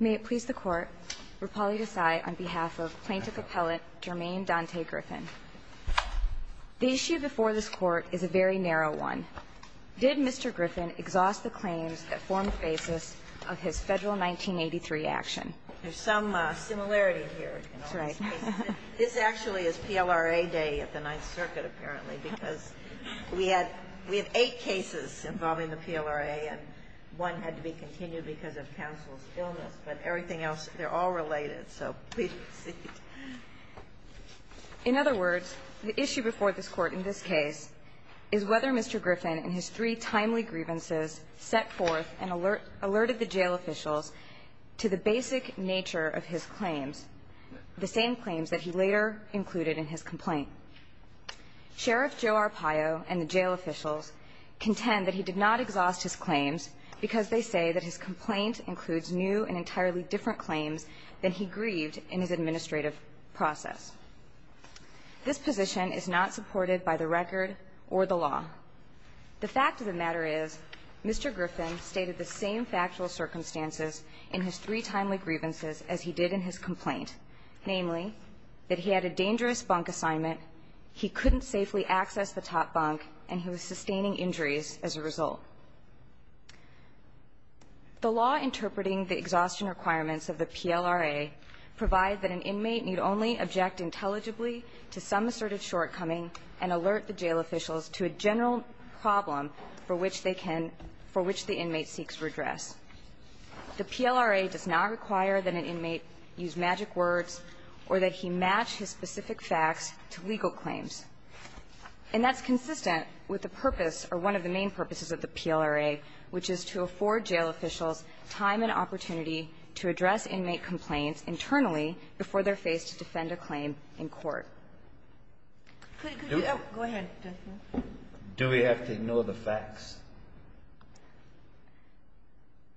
May it please the Court, Rupali Desai on behalf of Plaintiff Appellant Jermaine Dante Griffin. The issue before this Court is a very narrow one. Did Mr. Griffin exhaust the claims that form the basis of his Federal 1983 action? There's some similarity here in all these cases. This actually is PLRA day at the Ninth Circuit, apparently, because we had eight cases involving the PLRA, and one had to be continued because of counsel's illness, but everything else, they're all related. So, please proceed. In other words, the issue before this Court in this case is whether Mr. Griffin, in his three timely grievances, set forth and alerted the jail officials to the basic nature of his claims, the same claims that he later included in his complaint. Sheriff Joe Arpaio and the jail officials contend that he did not exhaust his claims because they say that his complaint includes new and entirely different claims than he grieved in his administrative process. This position is not supported by the record or the law. The fact of the matter is, Mr. Griffin stated the same factual circumstances in his three timely grievances as he did in his complaint, namely, that he had a dangerous bunk assignment, he couldn't safely access the top bunk, and he was sustaining injuries as a result. The law interpreting the exhaustion requirements of the PLRA provide that an inmate need only object intelligibly to some asserted shortcoming and alert the jail officials to a general problem for which they can – for which the inmate seeks redress. The PLRA does not require that an inmate use magic words or that he match his specific facts to legal claims. And that's consistent with the purpose or one of the main purposes of the PLRA, which is to afford jail officials time and opportunity to address inmate complaints internally before they're faced to defend a claim in court. Ginsburg. Go ahead, Justice Kagan. Do we have to ignore the facts?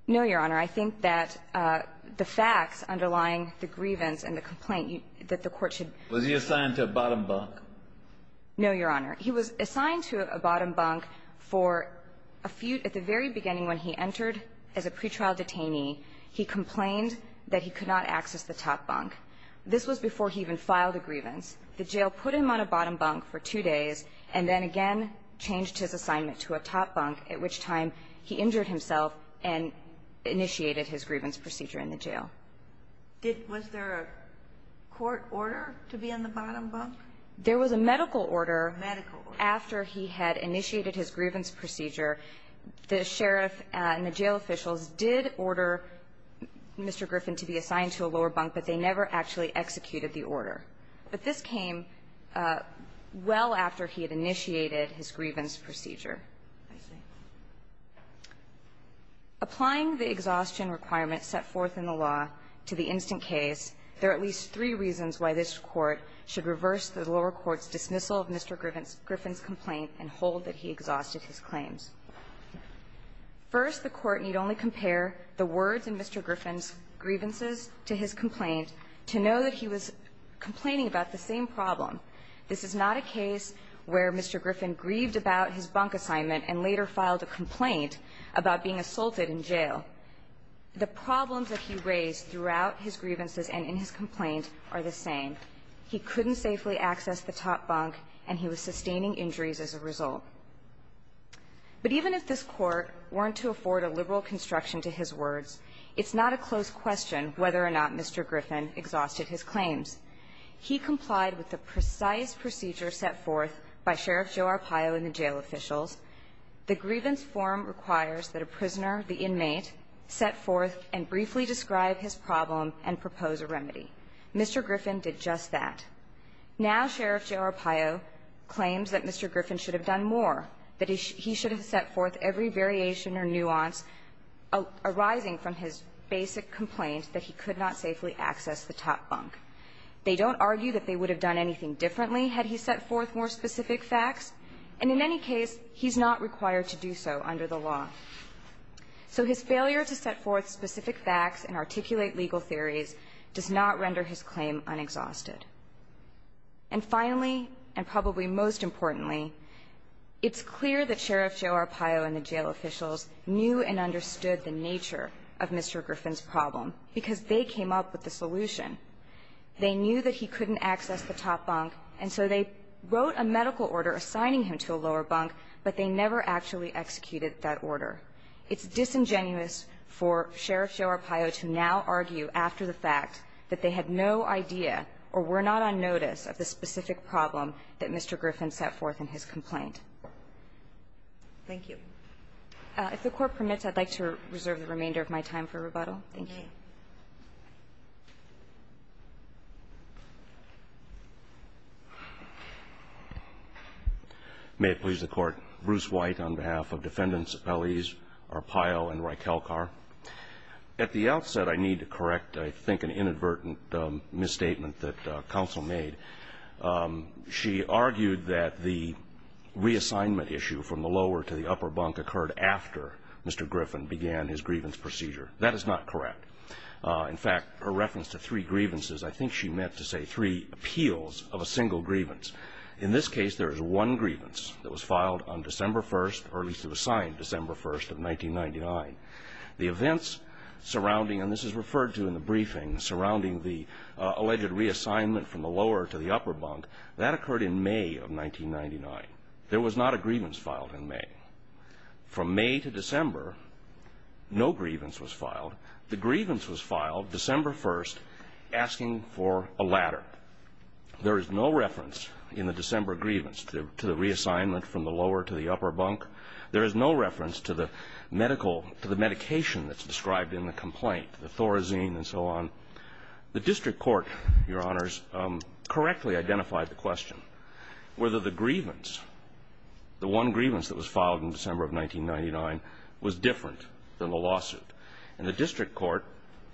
No, Your Honor. I think that the facts underlying the grievance and the complaint that the Court should – Was he assigned to a bottom bunk? No, Your Honor. He was assigned to a bottom bunk for a few – at the very beginning when he entered as a pretrial detainee, he complained that he could not access the top bunk. This was before he even filed a grievance. The jail put him on a bottom bunk for two days and then again changed his assignment to a top bunk, at which time he injured himself and initiated his grievance procedure in the jail. Did – was there a court order to be on the bottom bunk? There was a medical order. Medical order. After he had initiated his grievance procedure, the sheriff and the jail officials did order Mr. Griffin to be assigned to a lower bunk, but they never actually executed the order. But this came well after he had initiated his grievance procedure. I see. Applying the exhaustion requirements set forth in the law to the instant case, there are at least three reasons why this Court should reverse the lower court's dismissal of Mr. Griffin's complaint and hold that he exhausted his claims. First, the Court need only compare the words in Mr. Griffin's grievances to his complaint to know that he was complaining about the same problem. This is not a case where Mr. Griffin grieved about his bunk assignment and later filed a complaint about being assaulted in jail. The problems that he raised throughout his grievances and in his complaint are the same. He couldn't safely access the top bunk, and he was sustaining injuries as a result. But even if this Court weren't to afford a liberal construction to his words, it's not a close question whether or not Mr. Griffin exhausted his claims. He complied with the precise procedure set forth by Sheriff Joe Arpaio and the jail officials. The grievance form requires that a prisoner, the inmate, set forth and briefly describe his problem and propose a remedy. Mr. Griffin did just that. Now Sheriff Joe Arpaio claims that Mr. Griffin should have done more, that he should have set forth every variation or nuance arising from his basic complaint that he could not safely access the top bunk. They don't argue that they would have done anything differently had he set forth more specific facts. And in any case, he's not required to do so under the law. So his failure to set forth specific facts and articulate legal theories does not render his claim unexhausted. And finally, and probably most importantly, it's clear that Sheriff Joe Arpaio and the jail officials knew and understood the nature of Mr. Griffin's problem, because they came up with the solution. They knew that he couldn't access the top bunk, and so they wrote a medical order assigning him to a lower bunk, but they never actually executed that order. It's disingenuous for Sheriff Joe Arpaio to now argue after the fact that they had no idea or were not on notice of the specific problem that Mr. Griffin set forth in his complaint. Thank you. If the Court permits, I'd like to reserve the remainder of my time for rebuttal. Thank you. May it please the Court. Bruce White on behalf of Defendants Appellees Arpaio and Rykelkar. At the outset, I need to correct, I think, an inadvertent misstatement that counsel made. She argued that the reassignment issue from the lower to the upper bunk occurred after Mr. Griffin began his grievance procedure. That is not correct. In fact, her reference to three grievances, I think she meant to say three appeals of a single grievance. In this case, there is one grievance that was filed on December 1st, or at least it was filed on December 1st of 1999. The events surrounding, and this is referred to in the briefing, surrounding the alleged reassignment from the lower to the upper bunk, that occurred in May of 1999. There was not a grievance filed in May. From May to December, no grievance was filed. The grievance was filed December 1st asking for a ladder. There is no reference in the December grievance to the reassignment from the lower to the upper bunk. There is no reference to the medical, to the medication that's described in the complaint, the Thorazine and so on. The district court, Your Honors, correctly identified the question. Whether the grievance, the one grievance that was filed in December of 1999, was different than the lawsuit. And the district court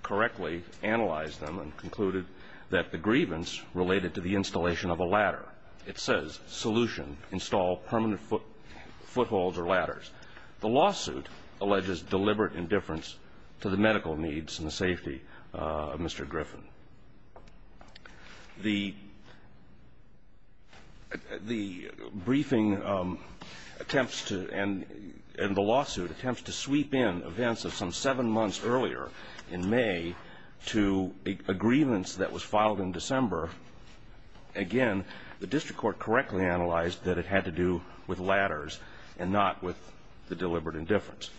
correctly analyzed them and concluded that the grievance related to the installation of a ladder. It says, solution, install permanent footholds or ladders. The lawsuit alleges deliberate indifference to the medical needs and the safety of Mr. Griffin. The briefing attempts to, and the lawsuit attempts to sweep in events of some seven months earlier in May to a grievance that was filed in December. Again, the district court correctly analyzed that it had to do with ladders and not with the deliberate indifference.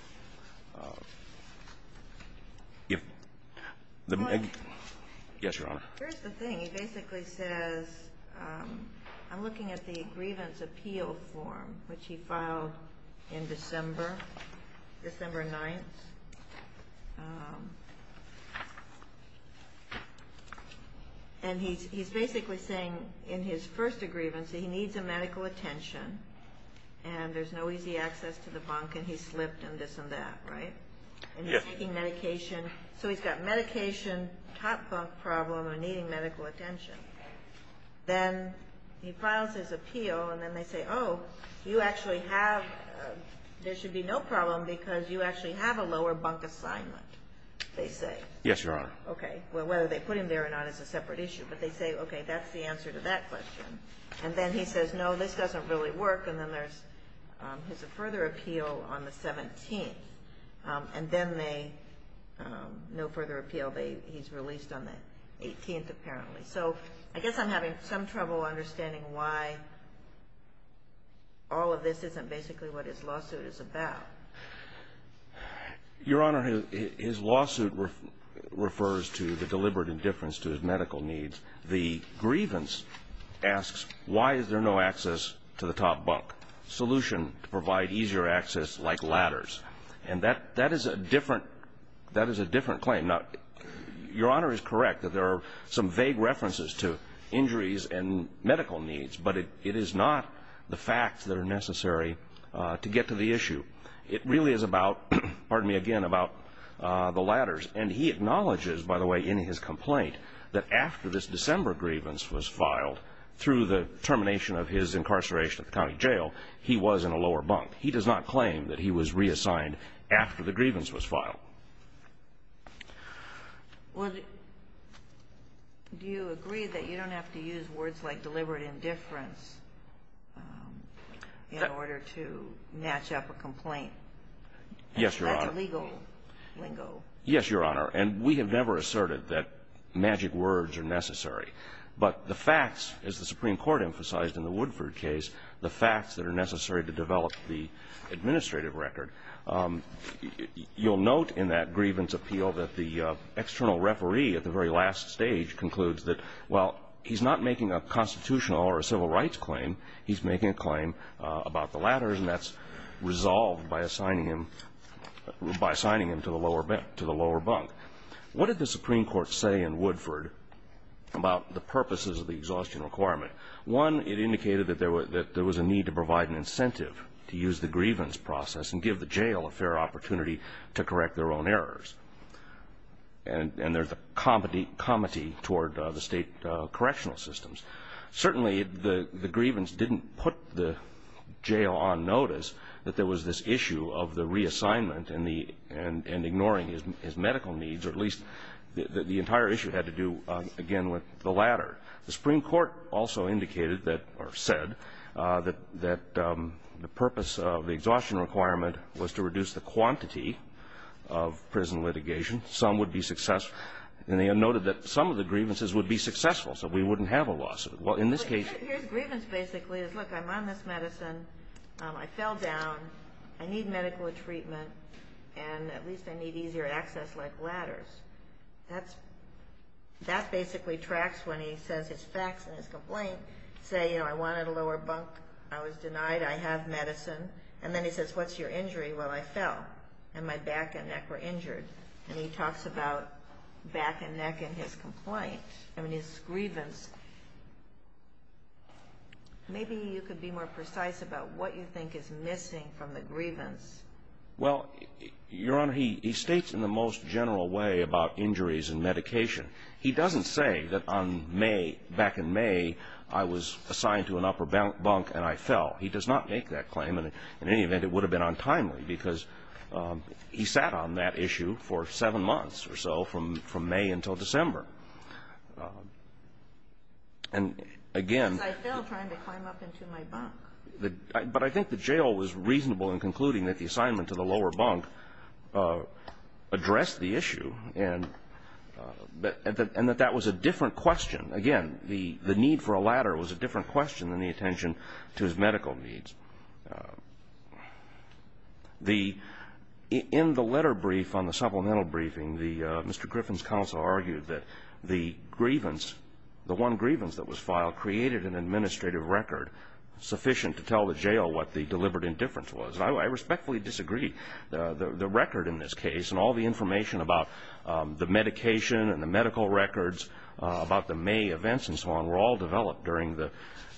Yes, Your Honor. Here's the thing. It basically says, I'm looking at the grievance appeal form, which he filed in December, December 9th. And he's basically saying in his first grievance that he needs a medical attention and there's no easy access to the bunk and he slipped and this and that, right? Yes. And he's taking medication. So he's got medication, top bunk problem, and needing medical attention. Then he files his appeal and then they say, oh, you actually have, there should be no problem because you actually have a lower bunk assignment, they say. Yes, Your Honor. Okay. Well, whether they put him there or not is a separate issue. But they say, okay, that's the answer to that question. And then he says, no, this doesn't really work. And then there's, there's a further appeal on the 17th. And then they, no further appeal. He's released on the 18th, apparently. So I guess I'm having some trouble understanding why all of this isn't basically what his lawsuit is about. Your Honor, his lawsuit refers to the deliberate indifference to his medical needs. The grievance asks why is there no access to the top bunk, solution to provide easier access like ladders. And that, that is a different, that is a different claim. Now, Your Honor is correct that there are some vague references to injuries and medical needs. But it is not the facts that are necessary to get to the issue. It really is about, pardon me again, about the ladders. And he acknowledges, by the way, in his complaint that after this December grievance was filed, through the termination of his incarceration at the county jail, he was in a lower bunk. He does not claim that he was reassigned after the grievance was filed. Well, do you agree that you don't have to use words like deliberate indifference in order to match up a complaint? Yes, Your Honor. Like a legal lingo. Yes, Your Honor. And we have never asserted that magic words are necessary. But the facts, as the Supreme Court emphasized in the Woodford case, the facts that are necessary to develop the administrative record, you'll note in that grievance appeal that the external referee at the very last stage concludes that, well, he's not making a constitutional or a civil rights claim, he's making a claim about the ladders, and that's resolved by assigning him to the lower bunk. What did the Supreme Court say in Woodford about the purposes of the exhaustion requirement? One, it indicated that there was a need to provide an incentive to use the grievance process and give the jail a fair opportunity to correct their own errors. And there's a comity toward the state correctional systems. Certainly, the grievance didn't put the jail on notice that there was this issue of the reassignment and ignoring his medical needs, or at least the entire issue had to do, again, with the ladder. The Supreme Court also indicated that, or said, that the purpose of the exhaustion requirement was to reduce the quantity of prison litigation. Some would be successful. And they noted that some of the grievances would be successful, so we wouldn't have a lawsuit. Well, in this case... His grievance, basically, is, look, I'm on this medicine, I fell down, I need medical treatment, and at least I need easier access like ladders. That basically tracks when he says his facts in his complaint say, you know, I wanted a lower bunk, I was denied, I have medicine. And then he says, what's your injury? Well, I fell, and my back and neck were injured. And he talks about back and neck in his complaint. I mean, his grievance. Maybe you could be more precise about what you think is missing from the grievance. Well, Your Honor, he states in the most general way about injuries and medication. He doesn't say that on May, back in May, I was assigned to an upper bunk and I fell. He does not make that claim. In any event, it would have been untimely because he sat on that issue for seven months or so from May until December. And, again... Because I fell trying to climb up into my bunk. But I think the jail was reasonable in concluding that the assignment to the lower bunk addressed the issue and that that was a different question. Again, the need for a ladder was a different question than the attention to his medical needs. In the letter brief on the supplemental briefing, Mr. Griffin's counsel argued that the grievance, the one grievance that was filed, created an administrative record sufficient to tell the jail what the deliberate indifference was. And I respectfully disagree. The record in this case and all the information about the medication and the medical records, about the May events and so on, were all developed during the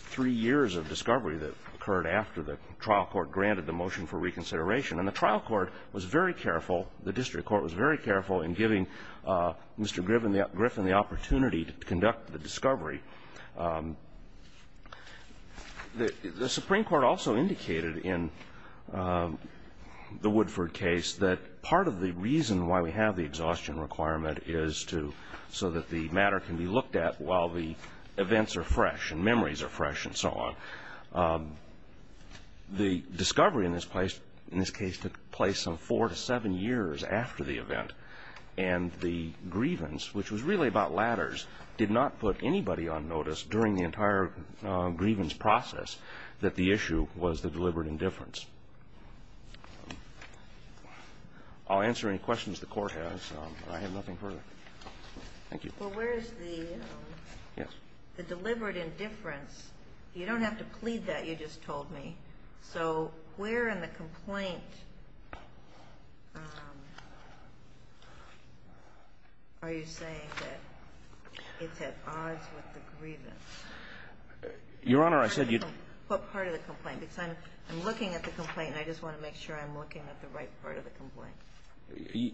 three years of discovery that occurred after the trial court granted the motion for reconsideration. And the trial court was very careful, the district court was very careful, in giving Mr. Griffin the opportunity to conduct the discovery. The Supreme Court also indicated in the Woodford case that part of the reason why we have the exhaustion requirement is so that the matter can be looked at while the events are fresh and memories are fresh and so on. The discovery in this case took place four to seven years after the event. And the grievance, which was really about ladders, did not put anybody on notice during the entire grievance process that the issue was the deliberate indifference. I'll answer any questions the Court has. I have nothing further. Thank you. Well, where is the deliberate indifference? You don't have to plead that, you just told me. So where in the complaint are you saying that it's at odds with the grievance? Your Honor, I said you'd – What part of the complaint? Because I'm looking at the complaint and I just want to make sure I'm looking at the right part of the complaint.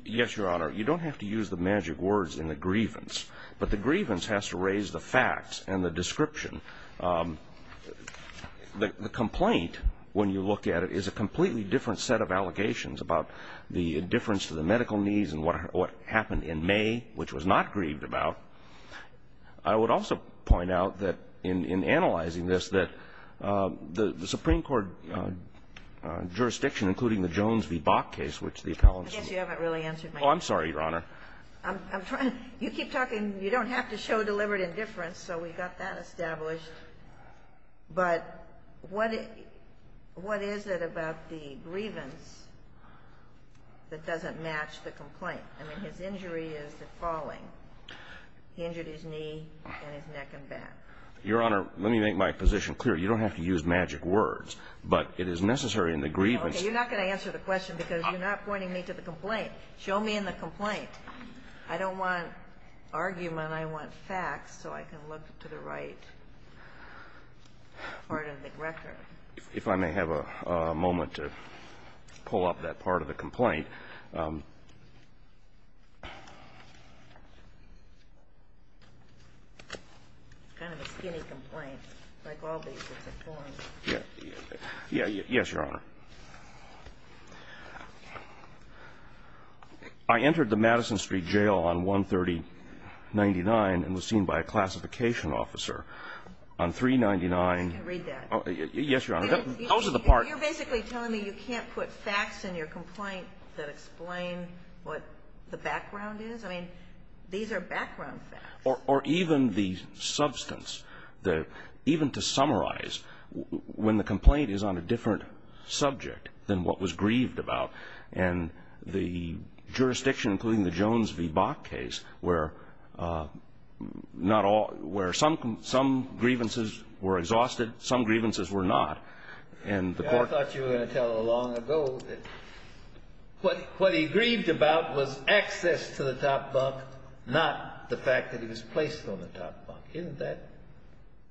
Yes, Your Honor. You don't have to use the magic words in the grievance, but the grievance has to raise the facts and the description. The complaint, when you look at it, is a completely different set of allegations about the indifference to the medical needs and what happened in May, which was not grieved about. I would also point out that in analyzing this that the Supreme Court jurisdiction, including the Jones v. Bok case, which the appellants – I guess you haven't really answered my question. Oh, I'm sorry, Your Honor. I'm trying – you keep talking – you don't have to show deliberate indifference, so we've got that established. But what is it about the grievance that doesn't match the complaint? I mean, his injury is the falling. He injured his knee and his neck and back. Your Honor, let me make my position clear. You don't have to use magic words, but it is necessary in the grievance – Well, you're not going to answer the question because you're not pointing me to the complaint. Show me in the complaint. I don't want argument. I want facts so I can look to the right part of the record. If I may have a moment to pull up that part of the complaint. It's kind of a skinny complaint, like all these different forms. Yes, Your Honor. I entered the Madison Street Jail on 13099 and was seen by a classification officer on 399 – I can read that. Yes, Your Honor. That was the part – You're basically telling me you can't put facts in your complaint that explain what the background is? I mean, these are background facts. Or even the substance, even to summarize, when the complaint is on a different subject than what was grieved about. And the jurisdiction, including the Jones v. Bok case, where some grievances were exhausted, some grievances were not. I thought you were going to tell it long ago. What he grieved about was access to the top bunk, not the fact that he was placed on the top bunk. Isn't that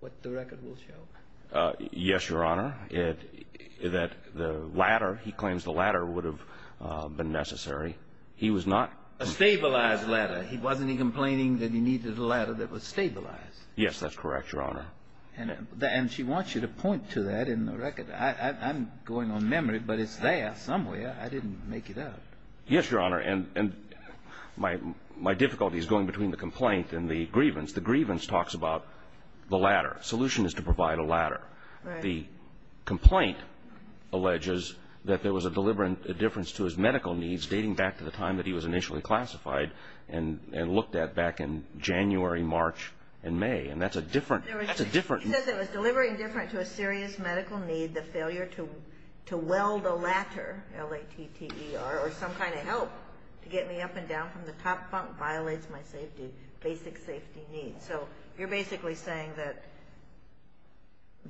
what the record will show? Yes, Your Honor. That the ladder – he claims the ladder would have been necessary. He was not – A stabilized ladder. Wasn't he complaining that he needed a ladder that was stabilized? Yes, that's correct, Your Honor. And she wants you to point to that in the record. I'm going on memory, but it's there somewhere. I didn't make it up. Yes, Your Honor. And my difficulty is going between the complaint and the grievance. The grievance talks about the ladder. The solution is to provide a ladder. Right. The complaint alleges that there was a deliberate indifference to his medical needs dating back to the time that he was initially classified and looked at back in January, March, and May. And that's a different – that's a different – And the failure to weld a ladder, L-A-T-T-E-R, or some kind of help to get me up and down from the top bunk violates my safety, basic safety needs. So you're basically saying that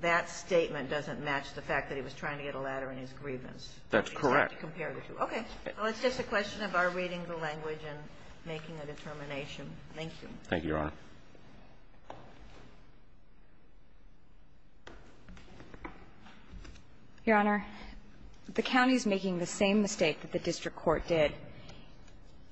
that statement doesn't match the fact that he was trying to get a ladder in his grievance. That's correct. Okay. Well, it's just a question of our reading the language and making a determination. Thank you. Thank you, Your Honor. Your Honor, the county's making the same mistake that the district court did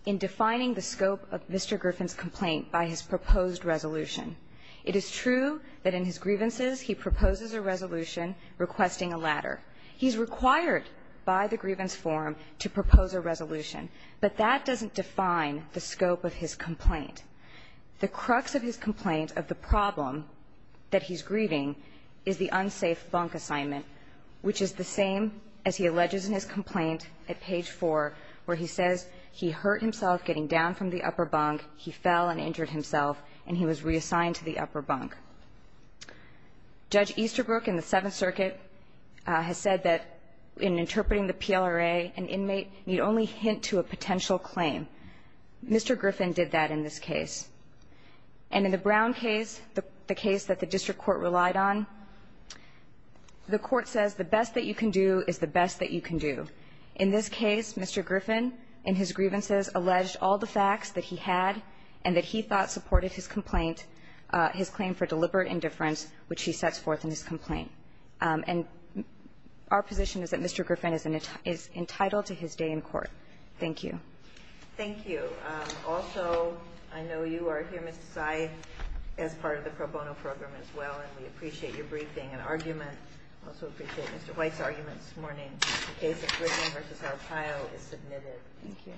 in defining the scope of Mr. Griffin's complaint by his proposed resolution. It is true that in his grievances he proposes a resolution requesting a ladder. He's required by the grievance form to propose a resolution, but that doesn't define the scope of his complaint. The crux of his complaint of the problem that he's grieving is the unsafe bunk assignment, which is the same as he alleges in his complaint at page 4 where he says he hurt himself getting down from the upper bunk, he fell and injured himself, and he was reassigned to the upper bunk. Judge Easterbrook in the Seventh Circuit has said that in interpreting the PLRA, an inmate need only hint to a potential claim. Mr. Griffin did that in this case. And in the Brown case, the case that the district court relied on, the court says the best that you can do is the best that you can do. In this case, Mr. Griffin in his grievances alleged all the facts that he had and that he thought supported his complaint, his claim for deliberate indifference, which he sets forth in his complaint. And our position is that Mr. Griffin is entitled to his day in court. Thank you. Thank you. Also, I know you are here, Mr. Sy, as part of the pro bono program as well, and we appreciate your briefing and argument. We also appreciate Mr. White's argument this morning. The case of Griffin v. Arpaio is submitted. Thank you.